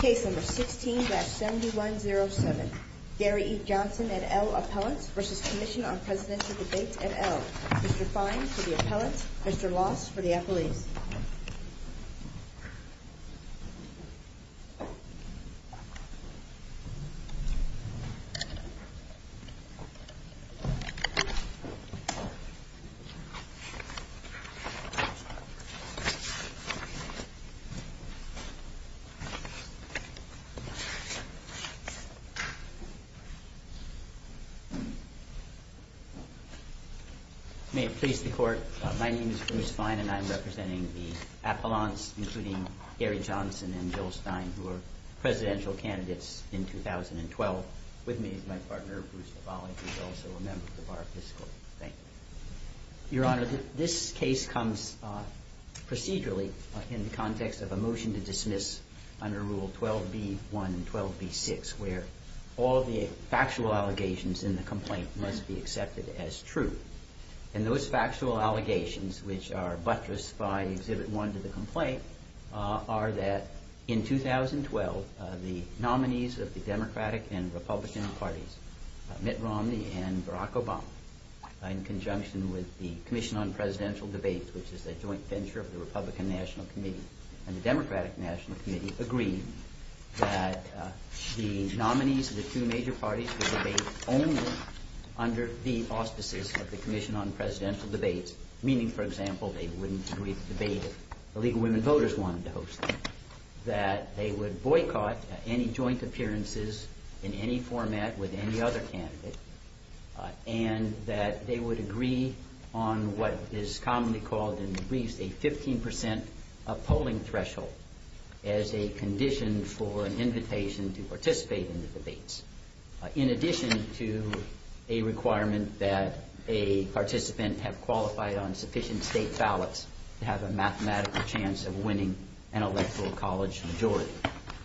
Case number 16-7107, Gary E. Johnson and L. Appellants v. Commission on Presidential Debate and L. Mr. Fine for the Appellants, Mr. Loss for the Appellees. May it please the Court, my name is Bruce Fine and I'm representing the Appellants, including Gary Johnson and Jill Stein, who were presidential candidates in 2012. With me is my partner, Bruce McFarland, who is also a member of the Bar of Biscuits. Thank you. Your Honor, this case comes procedurally in the context of a motion to dismiss under Rule 12b-1 and 12b-6, where all the factual allegations in the complaint must be accepted as true. And those factual allegations, which are buttressed by Exhibit 1 to the complaint, are that in 2012, the nominees of the Democratic and Republican parties, Mitt Romney and Barack Obama, in conjunction with the Commission on Presidential Debate, which is a joint venture of the Republican National Committee and the Democratic National Committee, would agree that the nominees of the two major parties would debate only under the auspices of the Commission on Presidential Debate, meaning, for example, they wouldn't agree to debate if the League of Women Voters wanted to host them, that they would boycott any joint appearances in any format with any other candidate, and that they would agree on what is commonly called in the briefs a 15 percent polling threshold as a condition for an invitation to participate in the debates, in addition to a requirement that a participant have qualified on sufficient state ballots to have a mathematical chance of winning an electoral college majority.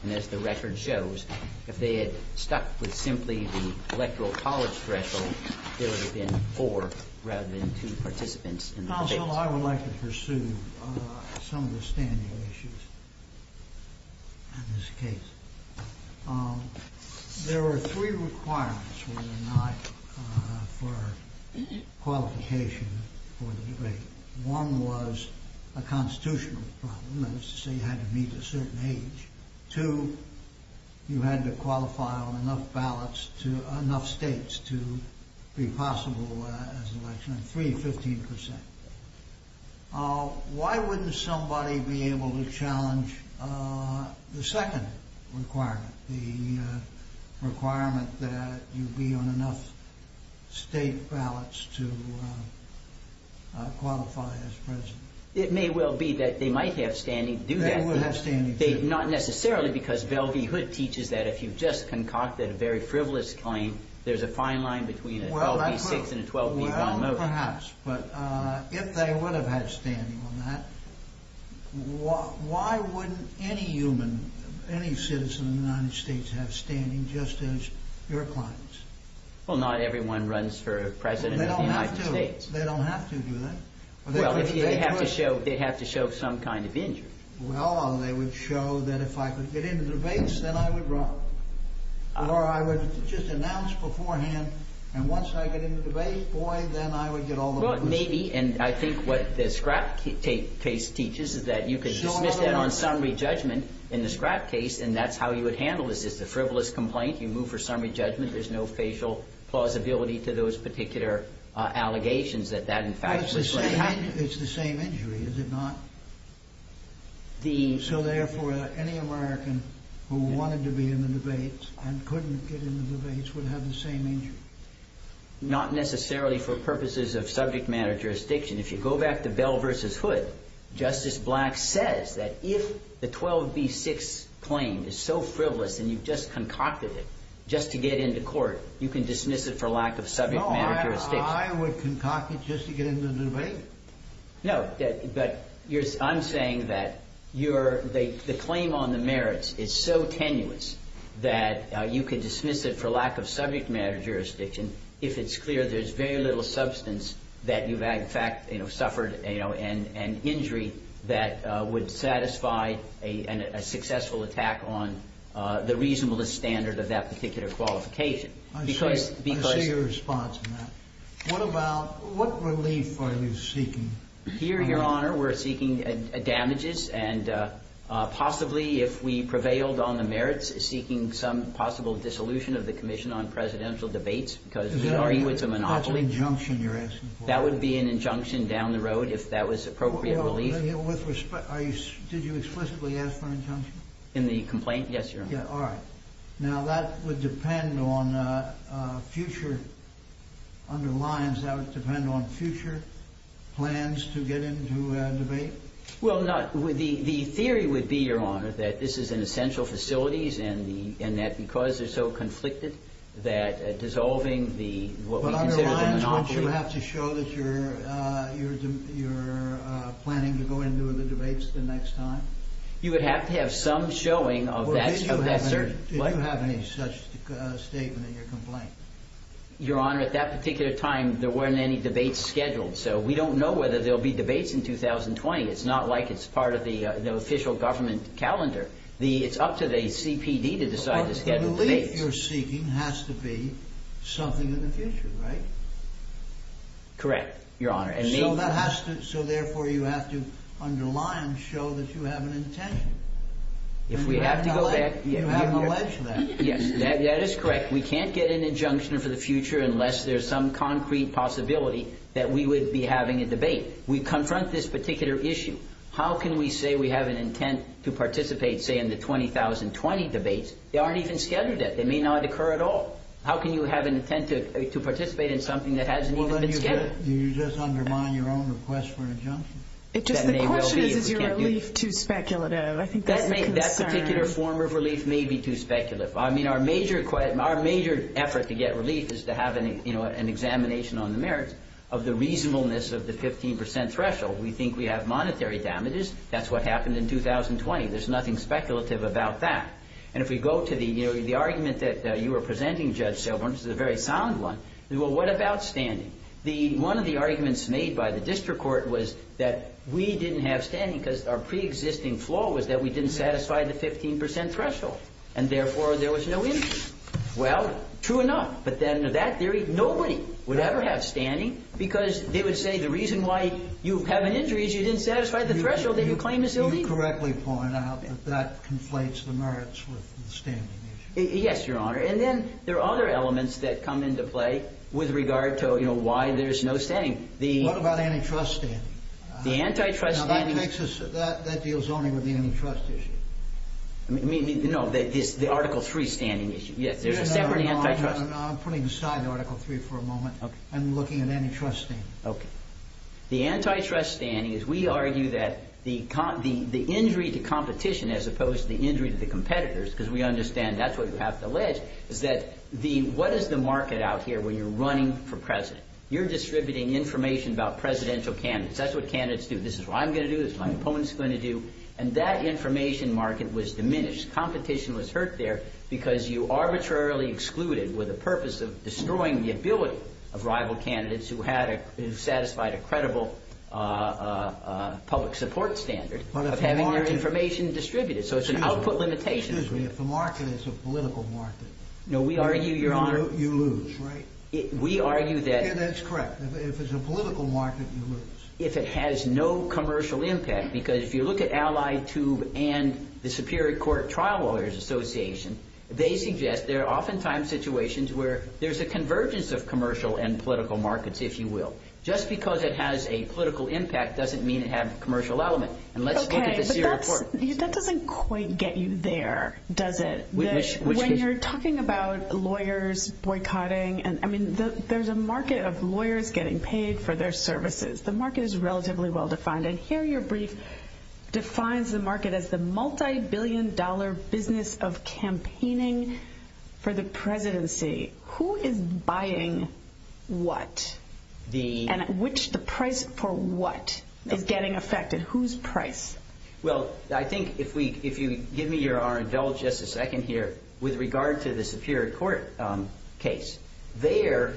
And as the record shows, if they had stuck with simply the electoral college threshold, there would have been four rather than two participants in the debates. Counsel, I would like to pursue some of the standing issues in this case. There are three requirements for qualification for the debate. One was a constitutional problem, that is to say, you had to meet a certain age. Two, you had to qualify on enough states to be possible as an election, and three, 15 percent. Why wouldn't somebody be able to challenge the second requirement, the requirement that you be on enough state ballots to qualify as president? It may well be that they might have standing to do that. They would have standing to do that. Not necessarily because Velvey Hood teaches that if you've just concocted a very frivolous claim, there's a fine line between a 12B6 and a 12B1 motion. Perhaps. But if they would have had standing on that, why wouldn't any human, any citizen of the United States have standing just as your clients? Well, not everyone runs for president of the United States. They don't have to. They don't have to do that. Well, they have to show some kind of injury. Well, they would show that if I could get into the debates, then I would run. Or I would just announce beforehand, and once I get into the debate, boy, then I would get all the votes. Well, maybe. And I think what the Scrapp case teaches is that you could dismiss that on summary judgment in the Scrapp case, and that's how you would handle this. It's a frivolous complaint. You move for summary judgment. There's no facial plausibility to those particular allegations that that, in fact, was what happened. It's the same injury, is it not? So, therefore, any American who wanted to be in the debates and couldn't get into the debates would have the same injury? Not necessarily for purposes of subject matter jurisdiction. If you go back to Bell v. Hood, Justice Black says that if the 12B6 claim is so frivolous and you've just concocted it just to get into court, you can dismiss it for lack of subject matter jurisdiction. No, I would concoct it just to get into the debate. No, but I'm saying that the claim on the merits is so tenuous that you could dismiss it for lack of subject matter jurisdiction if it's clear there's very little substance that you've, in fact, suffered an injury that would satisfy a successful attack on the reasonableness standard of that particular qualification. I see your response, Matt. What about – what relief are you seeking? Here, Your Honor, we're seeking damages and possibly, if we prevailed on the merits, seeking some possible dissolution of the Commission on Presidential Debates because we argue it's a monopoly. That's an injunction you're asking for. That would be an injunction down the road if that was appropriate relief. With respect, are you – did you explicitly ask for an injunction? In the complaint? Yes, Your Honor. All right. Now, that would depend on future – underlines that it would depend on future plans to get into a debate? Well, no. The theory would be, Your Honor, that this is in essential facilities and that because they're so conflicted that dissolving the – what we consider the monopoly – But underlines, wouldn't you have to show that you're planning to go into the debates the next time? You would have to have some showing of that certain – Did you have any such statement in your complaint? Your Honor, at that particular time, there weren't any debates scheduled, so we don't know whether there'll be debates in 2020. It's not like it's part of the official government calendar. It's up to the CPD to decide to schedule debates. But the relief you're seeking has to be something in the future, right? Correct, Your Honor. So, therefore, you have to underline, show that you have an intention. You haven't alleged that. Yes, that is correct. We can't get an injunction for the future unless there's some concrete possibility that we would be having a debate. We confront this particular issue. How can we say we have an intent to participate, say, in the 2020 debates? They aren't even scheduled yet. They may not occur at all. How can you have an intent to participate in something that hasn't even been scheduled? Did you just undermine your own request for an injunction? The question is, is your relief too speculative? I think that's a concern. That particular form of relief may be too speculative. I mean, our major effort to get relief is to have an examination on the merits of the reasonableness of the 15 percent threshold. We think we have monetary damages. That's what happened in 2020. There's nothing speculative about that. And if we go to the argument that you were presenting, Judge Silverman, which is a very sound one, well, what about standing? One of the arguments made by the district court was that we didn't have standing because our preexisting flaw was that we didn't satisfy the 15 percent threshold. And therefore, there was no injury. Well, true enough. But then to that theory, nobody would ever have standing because they would say the reason why you have an injury is you didn't satisfy the threshold that you claim is illegal. You correctly point out that that conflates the merits with the standing issue. Yes, Your Honor. And then there are other elements that come into play with regard to, you know, why there's no standing. What about antitrust standing? The antitrust standing. Now, that deals only with the antitrust issue. No, the Article III standing issue. Yes. There's a separate antitrust. No, no, no. I'm putting aside Article III for a moment. Okay. I'm looking at antitrust standing. Okay. The antitrust standing is we argue that the injury to competition as opposed to the injury to the competitors, because we understand that's what you have to allege, is that what is the market out here where you're running for president? You're distributing information about presidential candidates. That's what candidates do. This is what I'm going to do. This is what my opponent is going to do. And that information market was diminished. Competition was hurt there because you arbitrarily excluded with the purpose of destroying the ability of rival candidates who had satisfied a credible public support standard of having their information distributed. So it's an output limitation. Excuse me. If the market is a political market, you lose, right? We argue that. Yeah, that's correct. If it's a political market, you lose. If it has no commercial impact, because if you look at Ally Tube and the Superior Court Trial Lawyers Association, they suggest there are oftentimes situations where there's a convergence of commercial and political markets, if you will. Just because it has a political impact doesn't mean it has a commercial element. And let's look at the Serial Court. Okay. But that doesn't quite get you there, does it? When you're talking about lawyers boycotting, I mean, there's a market of lawyers getting paid for their services. The market is relatively well defined. And here your brief defines the market as the multi-billion dollar business of campaigning for the presidency. Who is buying what? And at which the price for what is getting affected? Whose price? Well, I think if you give me your Arendelle just a second here, with regard to the Superior Court case, there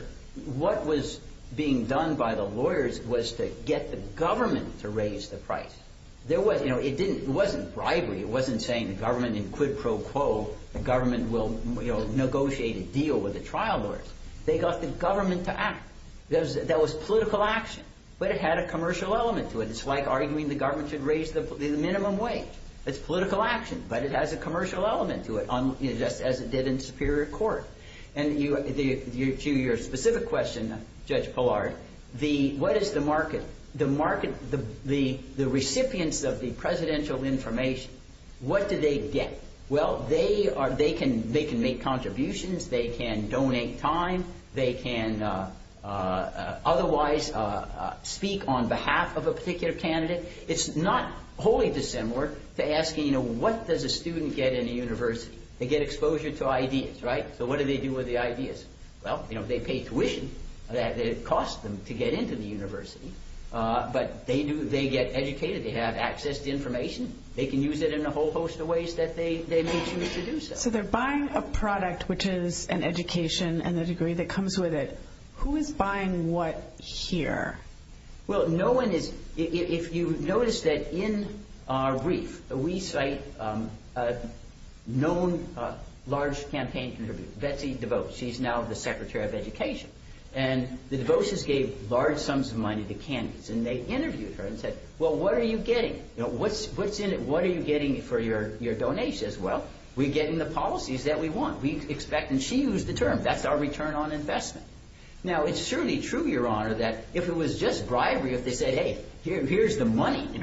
what was being done by the lawyers was to get the government to raise the price. It wasn't bribery. It wasn't saying the government in quid pro quo, the government will negotiate a deal with the trial lawyers. They got the government to act. That was political action. But it had a commercial element to it. It's like arguing the government should raise the minimum wage. It's political action. But it has a commercial element to it, just as it did in Superior Court. And to your specific question, Judge Pillard, what is the market? The market, the recipients of the presidential information, what do they get? Well, they can make contributions. They can donate time. They can otherwise speak on behalf of a particular candidate. It's not wholly dissimilar to asking, you know, what does a student get in a university? They get exposure to ideas, right? So what do they do with the ideas? Well, you know, they pay tuition. It costs them to get into the university. But they get educated. They have access to information. They can use it in a whole host of ways that they may choose to do so. So they're buying a product which is an education and a degree that comes with it. Who is buying what here? Well, no one is. If you notice that in our brief, we cite a known large campaign contributor, Betsy DeVos. She's now the secretary of education. And the DeVoses gave large sums of money to candidates. And they interviewed her and said, well, what are you getting? What's in it? What are you getting for your donations? She says, well, we're getting the policies that we want. We expect. And she used the term. That's our return on investment. Now, it's certainly true, Your Honor, that if it was just bribery, if they said, hey, here's the money. You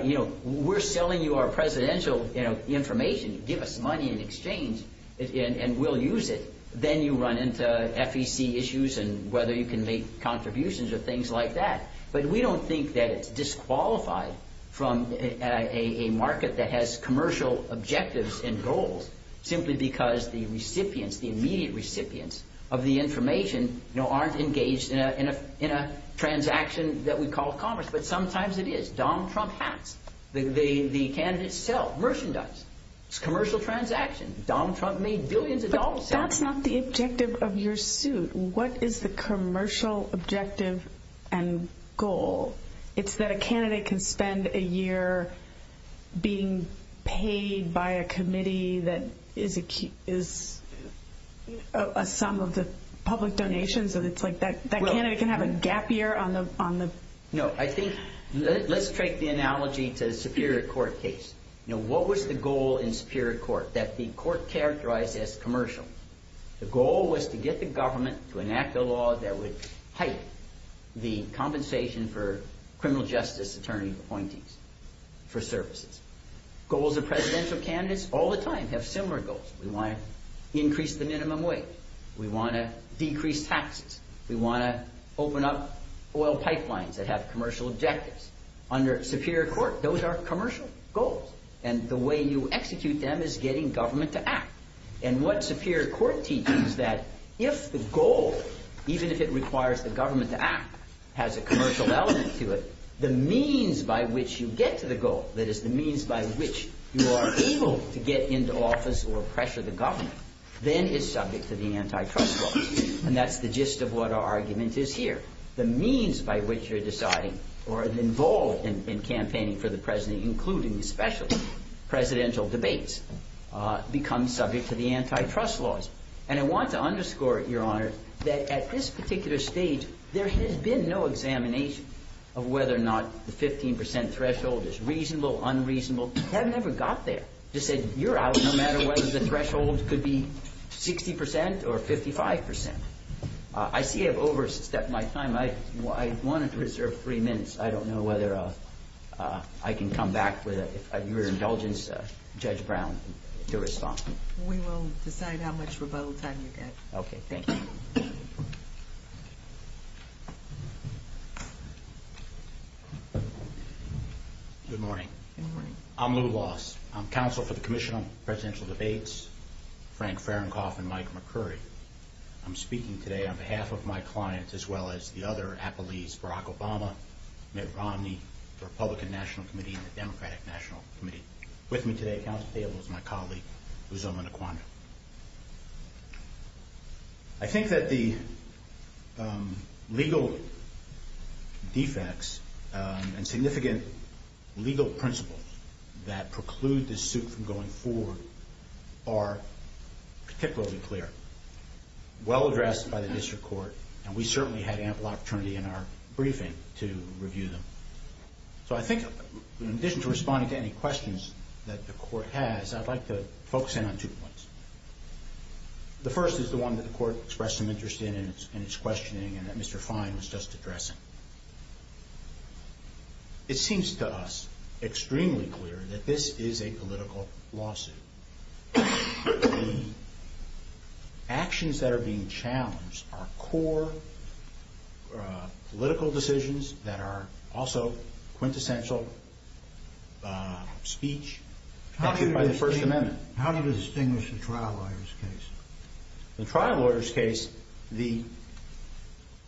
know, we're selling you our presidential information. Give us money in exchange and we'll use it. Then you run into FEC issues and whether you can make contributions or things like that. But we don't think that it's disqualified from a market that has commercial objectives and goals simply because the recipients, the immediate recipients of the information aren't engaged in a transaction that we call commerce. But sometimes it is. Donald Trump has. The candidates sell, merchandise. It's a commercial transaction. Donald Trump made billions of dollars. But that's not the objective of your suit. What is the commercial objective and goal? It's that a candidate can spend a year being paid by a committee that is a key is a sum of the public donations. And it's like that that candidate can have a gap year on the on the. No, I think let's take the analogy to the Superior Court case. Now, what was the goal in Superior Court that the court characterized as commercial? The goal was to get the government to enact a law that would heighten the compensation for criminal justice attorney appointees for services. Goals of presidential candidates all the time have similar goals. We want to increase the minimum wage. We want to decrease taxes. We want to open up oil pipelines that have commercial objectives. Under Superior Court, those are commercial goals. And the way you execute them is getting government to act. And what Superior Court teaches is that if the goal, even if it requires the government to act, has a commercial element to it, the means by which you get to the goal, that is the means by which you are able to get into office or pressure the government, then is subject to the antitrust law. And that's the gist of what our argument is here. The means by which you're deciding or involved in campaigning for the president, including the special presidential debates, becomes subject to the antitrust laws. And I want to underscore, Your Honor, that at this particular stage, there has been no examination of whether or not the 15% threshold is reasonable, unreasonable. You have never got there. You said you're out no matter whether the threshold could be 60% or 55%. I see I've overstepped my time. I wanted to reserve three minutes. I don't know whether I can come back with your indulgence, Judge Brown, to respond. We will decide how much rebuttal time you get. Okay, thank you. Good morning. Good morning. I'm Lou Loss. I'm counsel for the Commission on Presidential Debates, Frank Fahrenkopf and Mike McCurry. I'm speaking today on behalf of my clients, as well as the other appellees, Barack Obama, Mitt Romney, the Republican National Committee and the Democratic National Committee. With me today at council table is my colleague, Uzo Manukwanda. I think that the legal defects and significant legal principles that preclude this suit from going forward are particularly clear, well addressed by the district court, and we certainly had ample opportunity in our briefing to review them. So I think in addition to responding to any questions that the court has, I'd like to focus in on two points. The first is the one that the court expressed some interest in in its questioning and that Mr. Fine was just addressing. It seems to us extremely clear that this is a political lawsuit. The actions that are being challenged are core political decisions that are also quintessential speech. How do you distinguish a trial lawyer's case? In a trial lawyer's case,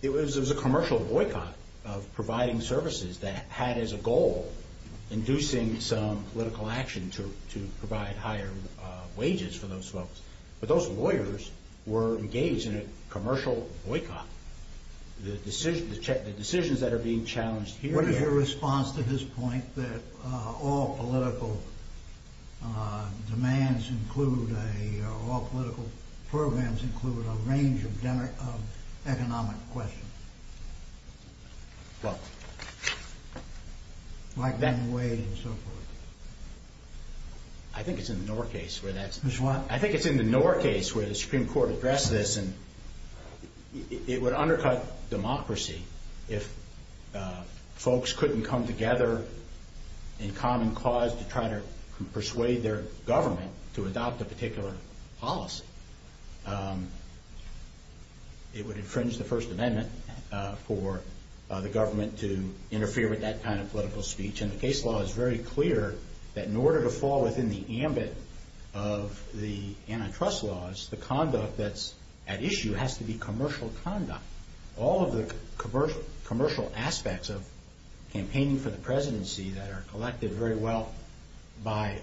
it was a commercial boycott of providing services that had as a goal inducing some political action to provide higher wages for those folks. But those lawyers were engaged in a commercial boycott. The decisions that are being challenged here... programs include a range of economic questions. Like Ben Wade and so forth. I think it's in the Knorr case where the Supreme Court addressed this and it would undercut democracy if folks couldn't come together in common cause to try to persuade their government to adopt a particular policy. It would infringe the First Amendment for the government to interfere with that kind of political speech. And the case law is very clear that in order to fall within the ambit of the antitrust laws, the conduct that's at issue has to be commercial conduct. All of the commercial aspects of campaigning for the presidency that are collected very well by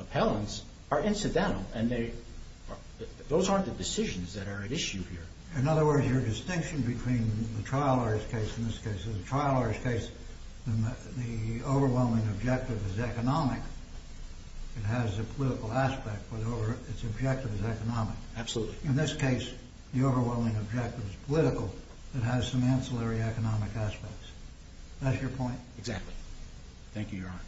appellants are incidental. Those aren't the decisions that are at issue here. In other words, your distinction between the trial lawyer's case and this case is the trial lawyer's case, the overwhelming objective is economic. Absolutely. In this case, the overwhelming objective is political. It has some ancillary economic aspects. That's your point? Exactly. Thank you, Your Honor.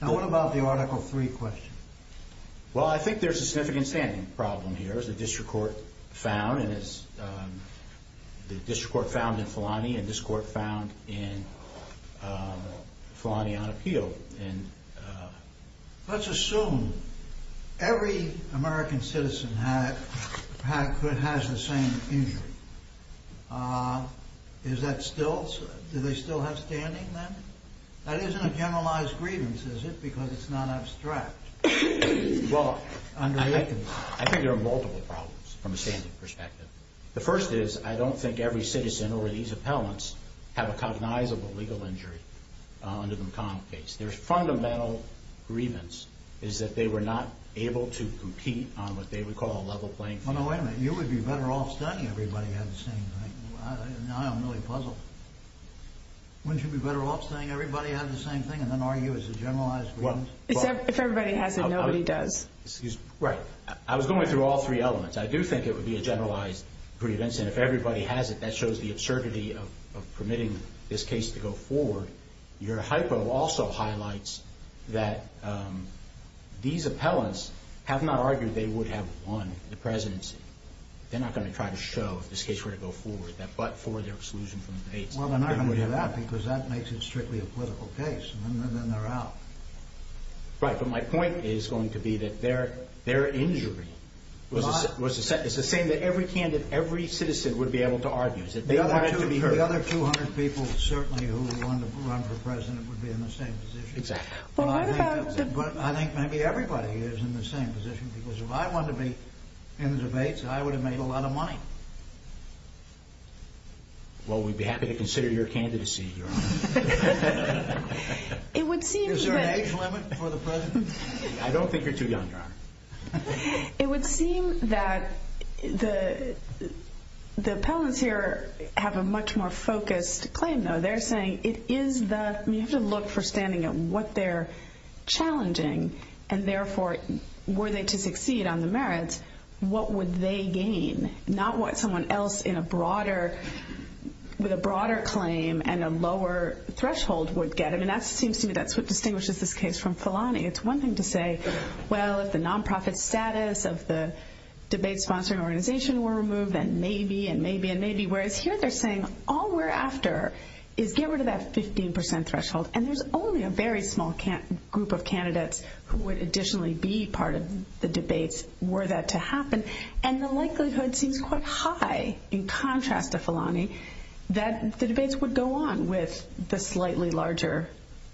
Now, what about the Article 3 question? Well, I think there's a significant standing problem here. As the district court found in Filani and this court found in Filani on appeal. Let's assume every American citizen has the same injury. Do they still have standing then? That isn't a generalized grievance, is it, because it's not abstract? Well, I think there are multiple problems from a standing perspective. The first is I don't think every citizen or these appellants have a cognizable legal injury under the McConnell case. Their fundamental grievance is that they were not able to compete on what they would call a level playing field. Well, no, wait a minute. You would be better off saying everybody had the same thing. Now I'm really puzzled. Wouldn't you be better off saying everybody had the same thing and then argue it's a generalized grievance? Except if everybody has it, nobody does. Right. I was going through all three elements. I do think it would be a generalized grievance, and if everybody has it, that shows the absurdity of permitting this case to go forward. Your hypo also highlights that these appellants have not argued they would have won the presidency. They're not going to try to show, if this case were to go forward, that but for their exclusion from the case. Well, they're not going to do that because that makes it strictly a political case, and then they're out. Right, but my point is going to be that their injury was the same. You're saying that every candidate, every citizen would be able to argue. The other 200 people certainly who would want to run for president would be in the same position. Exactly. I think maybe everybody is in the same position because if I wanted to be in the debates, I would have made a lot of money. Well, we'd be happy to consider your candidacy, Your Honor. Is there an age limit for the president? I don't think you're too young, Your Honor. It would seem that the appellants here have a much more focused claim, though. They're saying you have to look for standing at what they're challenging, and therefore were they to succeed on the merits, what would they gain, not what someone else with a broader claim and a lower threshold would get. That seems to me that's what distinguishes this case from Felani. It's one thing to say, well, if the nonprofit status of the debate sponsoring organization were removed, then maybe and maybe and maybe, whereas here they're saying all we're after is get rid of that 15% threshold, and there's only a very small group of candidates who would additionally be part of the debates were that to happen. And the likelihood seems quite high, in contrast to Felani, that the debates would go on with the slightly larger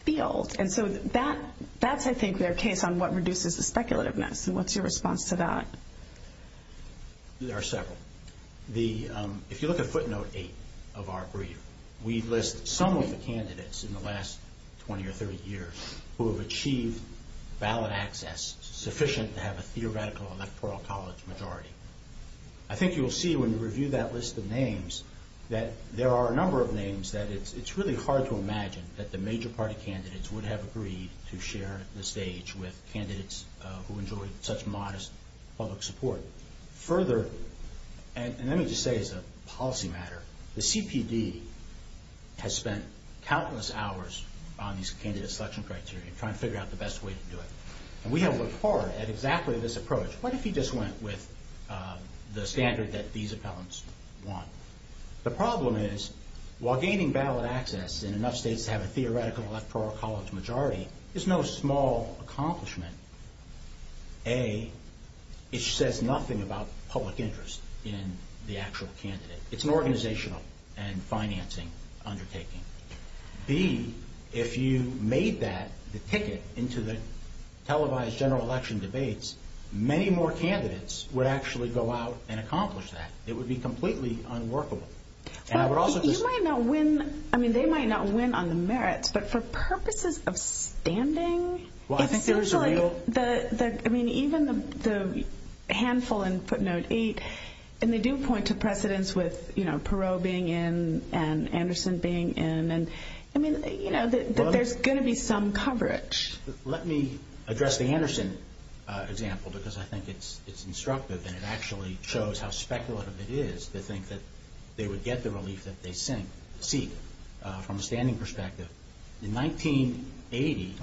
field. And so that's, I think, their case on what reduces the speculativeness, and what's your response to that? There are several. If you look at footnote 8 of our brief, we list some of the candidates in the last 20 or 30 years who have achieved ballot access sufficient to have a theoretical electoral college majority. I think you'll see when you review that list of names that there are a number of names that it's really hard to imagine that the major party candidates would have agreed to share the stage with candidates who enjoyed such modest public support. Further, and let me just say as a policy matter, the CPD has spent countless hours on these candidate selection criteria, trying to figure out the best way to do it. And we have worked hard at exactly this approach. What if you just went with the standard that these appellants want? The problem is, while gaining ballot access in enough states to have a theoretical electoral college majority is no small accomplishment. A, it says nothing about public interest in the actual candidate. It's an organizational and financing undertaking. B, if you made that the ticket into the televised general election debates, many more candidates would actually go out and accomplish that. It would be completely unworkable. You might not win, I mean, they might not win on the merits, but for purposes of standing, it seems like even the handful in footnote 8, and they do point to precedence with Perot being in and Anderson being in, I mean, there's going to be some coverage. Let me address the Anderson example because I think it's instructive and it actually shows how speculative it is to think that they would get the relief that they seek from a standing perspective. In 1980,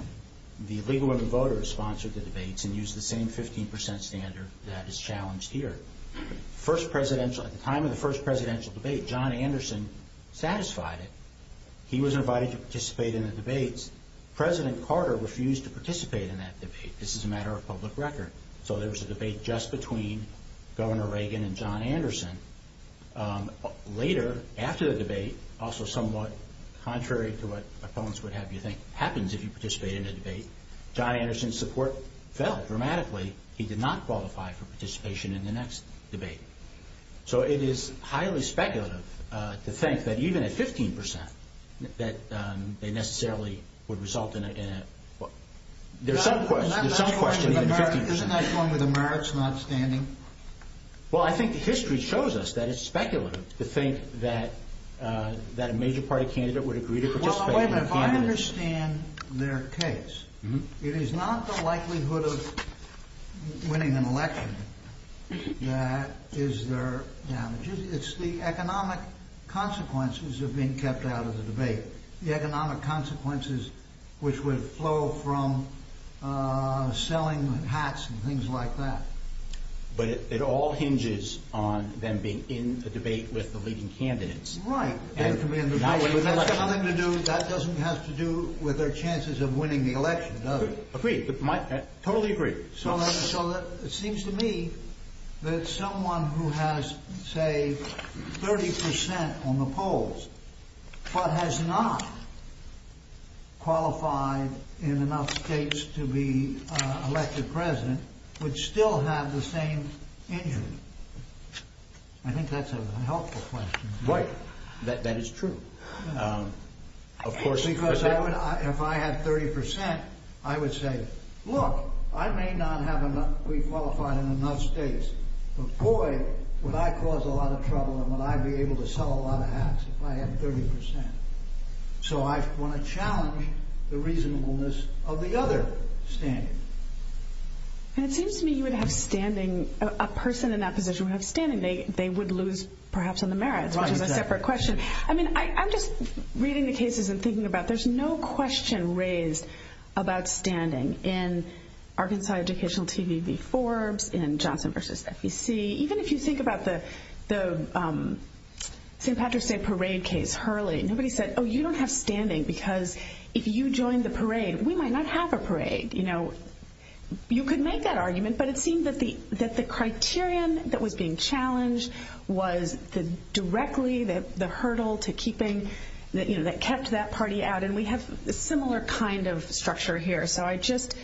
the League of Women Voters sponsored the debates and used the same 15% standard that is challenged here. At the time of the first presidential debate, John Anderson satisfied it. He was invited to participate in the debates. President Carter refused to participate in that debate. This is a matter of public record. So there was a debate just between Governor Reagan and John Anderson. Later, after the debate, also somewhat contrary to what opponents would have you think happens if you participate in a debate, John Anderson's support fell dramatically. He did not qualify for participation in the next debate. So it is highly speculative to think that even at 15% that they necessarily would result in a... There's some questioning at 15%. Isn't that the one with the merits not standing? Well, I think the history shows us that it's speculative to think that a major party candidate would agree to participate. Well, wait a minute. If I understand their case, it is not the likelihood of winning an election that is their damage. It's the economic consequences of being kept out of the debate. The economic consequences which would flow from selling hats and things like that. But it all hinges on them being in the debate with the leading candidates. Right. That doesn't have to do with their chances of winning the election, does it? Agreed. Totally agreed. It seems to me that someone who has, say, 30% on the polls, but has not qualified in enough states to be elected president would still have the same injury. I think that's a helpful question. Right. That is true. Because if I had 30%, I would say, look, I may not be qualified in enough states, but boy, would I cause a lot of trouble and would I be able to sell a lot of hats if I had 30%. So I want to challenge the reasonableness of the other standing. And it seems to me you would have standing... A person in that position would have standing. They would lose, perhaps, on the merits, which is a separate question. I mean, I'm just reading the cases and thinking about there's no question raised about standing in Arkansas Educational TV v. Forbes, in Johnson v. FEC. Even if you think about the St. Patrick's Day parade case, Hurley, nobody said, oh, you don't have standing because if you join the parade, we might not have a parade. You know, you could make that argument, but it seemed that the criterion that was being challenged was directly the hurdle to keeping, you know, that kept that party out. And we have a similar kind of structure here. So I just,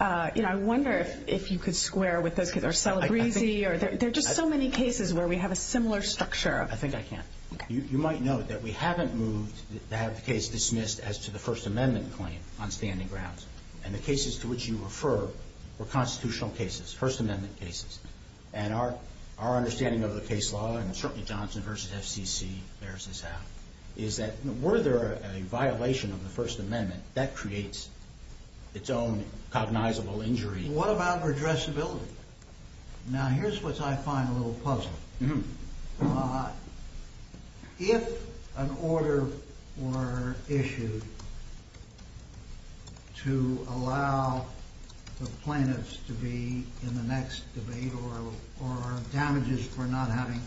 you know, I wonder if you could square with this because they're so breezy. There are just so many cases where we have a similar structure. I think I can. You might note that we haven't moved to have the case dismissed as to the First Amendment claim on standing grounds. And the cases to which you refer were constitutional cases, First Amendment cases. And our understanding of the case law, and certainly Johnson v. FCC bears this out, is that were there a violation of the First Amendment, that creates its own cognizable injury. What about redressability? Now, here's what I find a little puzzling. If an order were issued to allow the plaintiffs to be in the next debate or damages for not having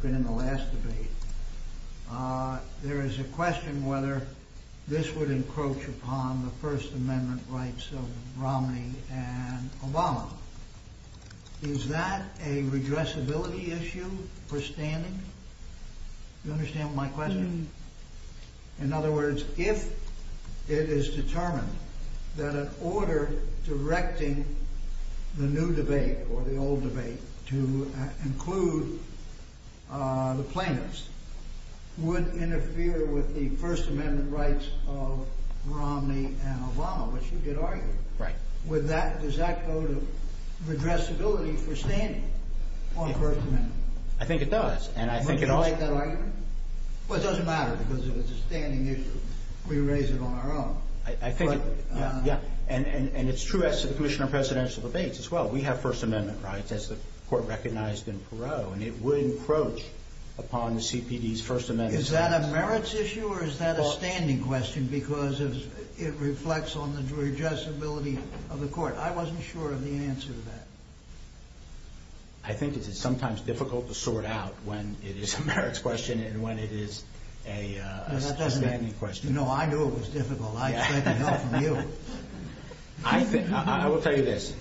been in the last debate, there is a question whether this would encroach upon the First Amendment rights of Romney and Obama. Is that a redressability issue for standing? You understand my question? In other words, if it is determined that an order directing the new debate or the old debate to include the plaintiffs would interfere with the First Amendment rights of Romney and Obama, which you could argue. Does that go to redressability for standing on the First Amendment? I think it does. Would you like that argument? Well, it doesn't matter, because if it's a standing issue, we raise it on our own. And it's true as to the Commissioner of Presidential Debates as well. We have First Amendment rights, as the Court recognized in Perot, and it would encroach upon the CPD's First Amendment rights. Is that a merits issue, or is that a standing question, because it reflects on the redressability of the Court? I wasn't sure of the answer to that. I think it is sometimes difficult to sort out when it is a merits question and when it is a standing question. No, I knew it was difficult. I expect to know from you. I will tell you this.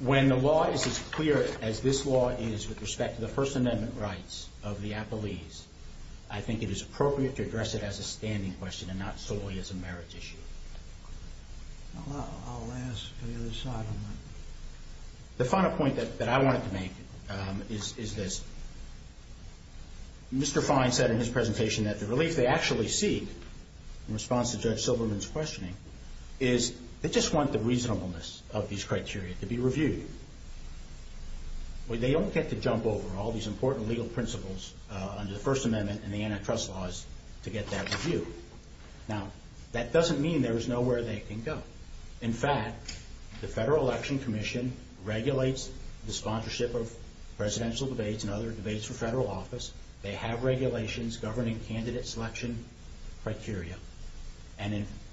When the law is as clear as this law is with respect to the First Amendment rights of the appellees, I think it is appropriate to address it as a standing question and not solely as a merits issue. I'll ask the other side on that. The final point that I wanted to make is this. Mr. Fine said in his presentation that the relief they actually seek in response to Judge Silberman's questioning is they just want the reasonableness of these criteria to be reviewed. They don't get to jump over all these important legal principles under the First Amendment and the antitrust laws to get that reviewed. Now, that doesn't mean there is nowhere they can go. In fact, the Federal Election Commission regulates the sponsorship of Presidential Debates and other debates for federal office. They have regulations governing candidate selection criteria.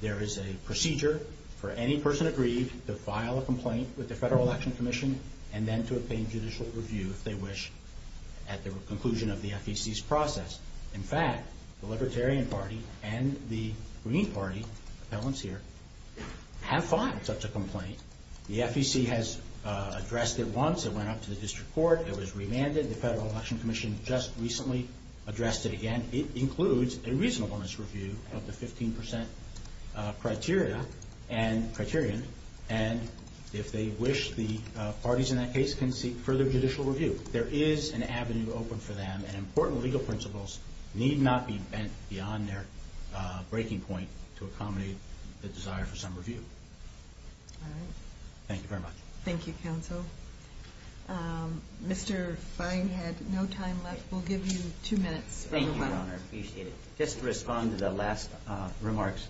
There is a procedure for any person aggrieved to file a complaint with the Federal Election Commission and then to obtain judicial review if they wish at the conclusion of the FEC's process. In fact, the Libertarian Party and the Green Party have filed such a complaint. The FEC has addressed it once. It went up to the District Court. It was remanded. The Federal Election Commission just recently addressed it again. It includes a reasonableness review of the 15% criteria and if they wish, the parties in that case can seek further judicial review. There is an avenue open for them and important legal principles need not be bent beyond their breaking point to accommodate the desire for some review. Thank you very much. Thank you, counsel. Mr. Feinhead, no time left. We'll give you two minutes. Thank you, Your Honor. I appreciate it. Just to respond to the last remarks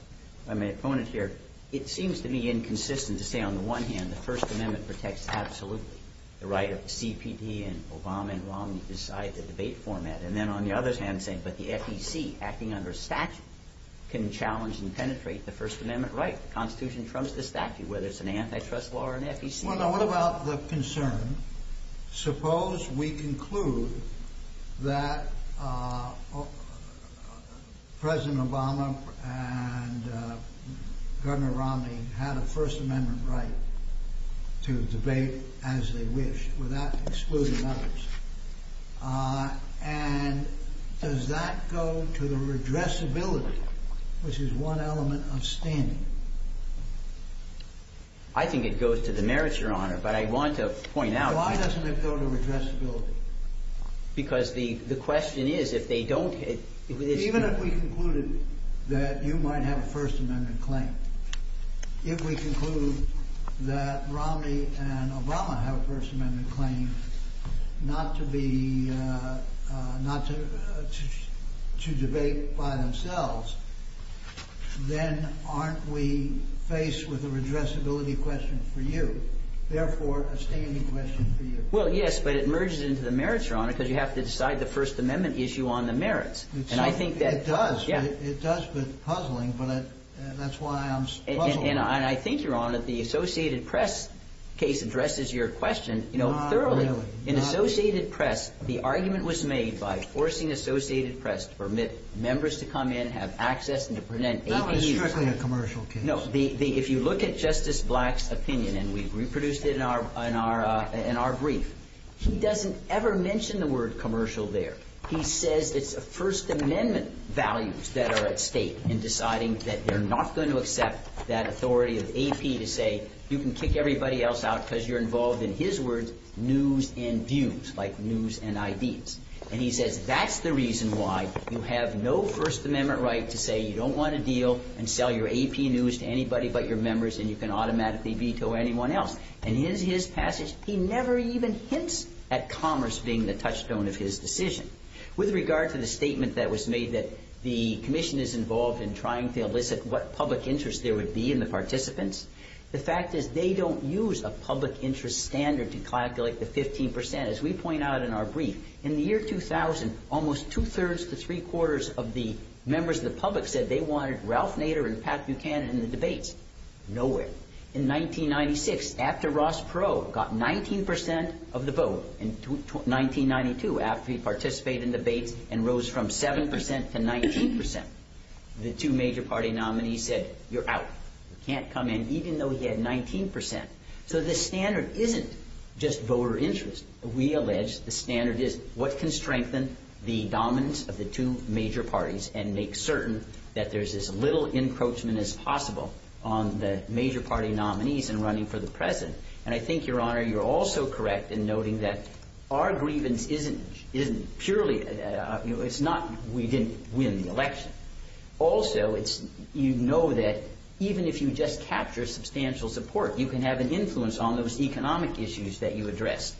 by my opponent here, it seems to me inconsistent to say on the one hand, the First Amendment protects absolutely the right of the CPD and Obama and Romney to decide the debate format. And then on the other hand, saying, but the FEC, acting under statute, can challenge and penetrate the First Amendment right. The Constitution trumps the statute, whether it's an antitrust law or an FEC law. What about the concern, suppose we conclude that President Obama and Governor Romney had a First Amendment right to debate as they wished without excluding others. And does that go to the redressability, which is one element of standing? I think it goes to the merits, Your Honor, but I want to point out. Why doesn't it go to redressability? Because the question is, if they don't. Even if we concluded that you might have a First Amendment claim. If we conclude that Romney and Obama have a First Amendment claim not to debate by themselves, then aren't we faced with a redressability question for you? Therefore, a standing question for you. Well, yes, but it merges into the merits, Your Honor, because you have to decide the First Amendment issue on the merits. It does. It does with puzzling, but that's why I'm puzzled. And I think, Your Honor, the Associated Press case addresses your question, you know, thoroughly. In Associated Press, the argument was made by forcing Associated Press to permit members to come in, have access, and to present APUs. That was strictly a commercial case. No. If you look at Justice Black's opinion, and we reproduced it in our brief, he doesn't ever mention the word commercial there. He says it's First Amendment values that are at stake in deciding that they're not going to accept that authority of AP to say, you can kick everybody else out because you're involved, in his words, news and views, like news and ideas. And he says that's the reason why you have no First Amendment right to say you don't want to deal and sell your AP news to anybody but your members and you can automatically veto anyone else. In his passage, he never even hints at commerce being the touchstone of his decision. With regard to the statement that was made that the Commission is involved in trying to elicit what public interest there would be in the participants, the fact is they don't use a public interest standard to calculate the 15%. As we point out in our brief, in the year 2000, almost two-thirds to three-quarters of the members of the public said they wanted Ralph Nader and Pat Buchanan in the debates. Nowhere. In 1996, after Ross Perot got 19% of the vote, in 1992, after he participated in debates and rose from 7% to 19%, the two major party nominees said, you're out. You can't come in, even though he had 19%. So the standard isn't just voter interest. We allege the standard is what can strengthen the dominance of the two major parties and make certain that there's as little encroachment as possible on the major party nominees in running for the president. And I think, Your Honor, you're also correct in noting that our grievance isn't purely – it's not we didn't win the election. Also, you know that even if you just capture substantial support, you can have an influence on those economic issues that you addressed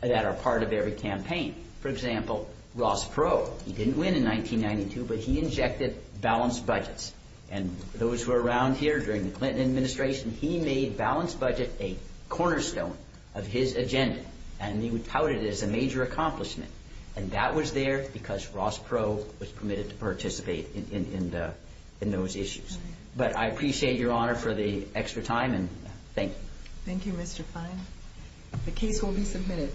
that are part of every campaign. For example, Ross Perot, he didn't win in 1992, but he injected balanced budgets. And those who are around here during the Clinton administration, he made balanced budget a cornerstone of his agenda, and he touted it as a major accomplishment. And that was there because Ross Perot was permitted to participate in those issues. But I appreciate, Your Honor, for the extra time, and thank you. Thank you, Mr. Fine. The case will be submitted.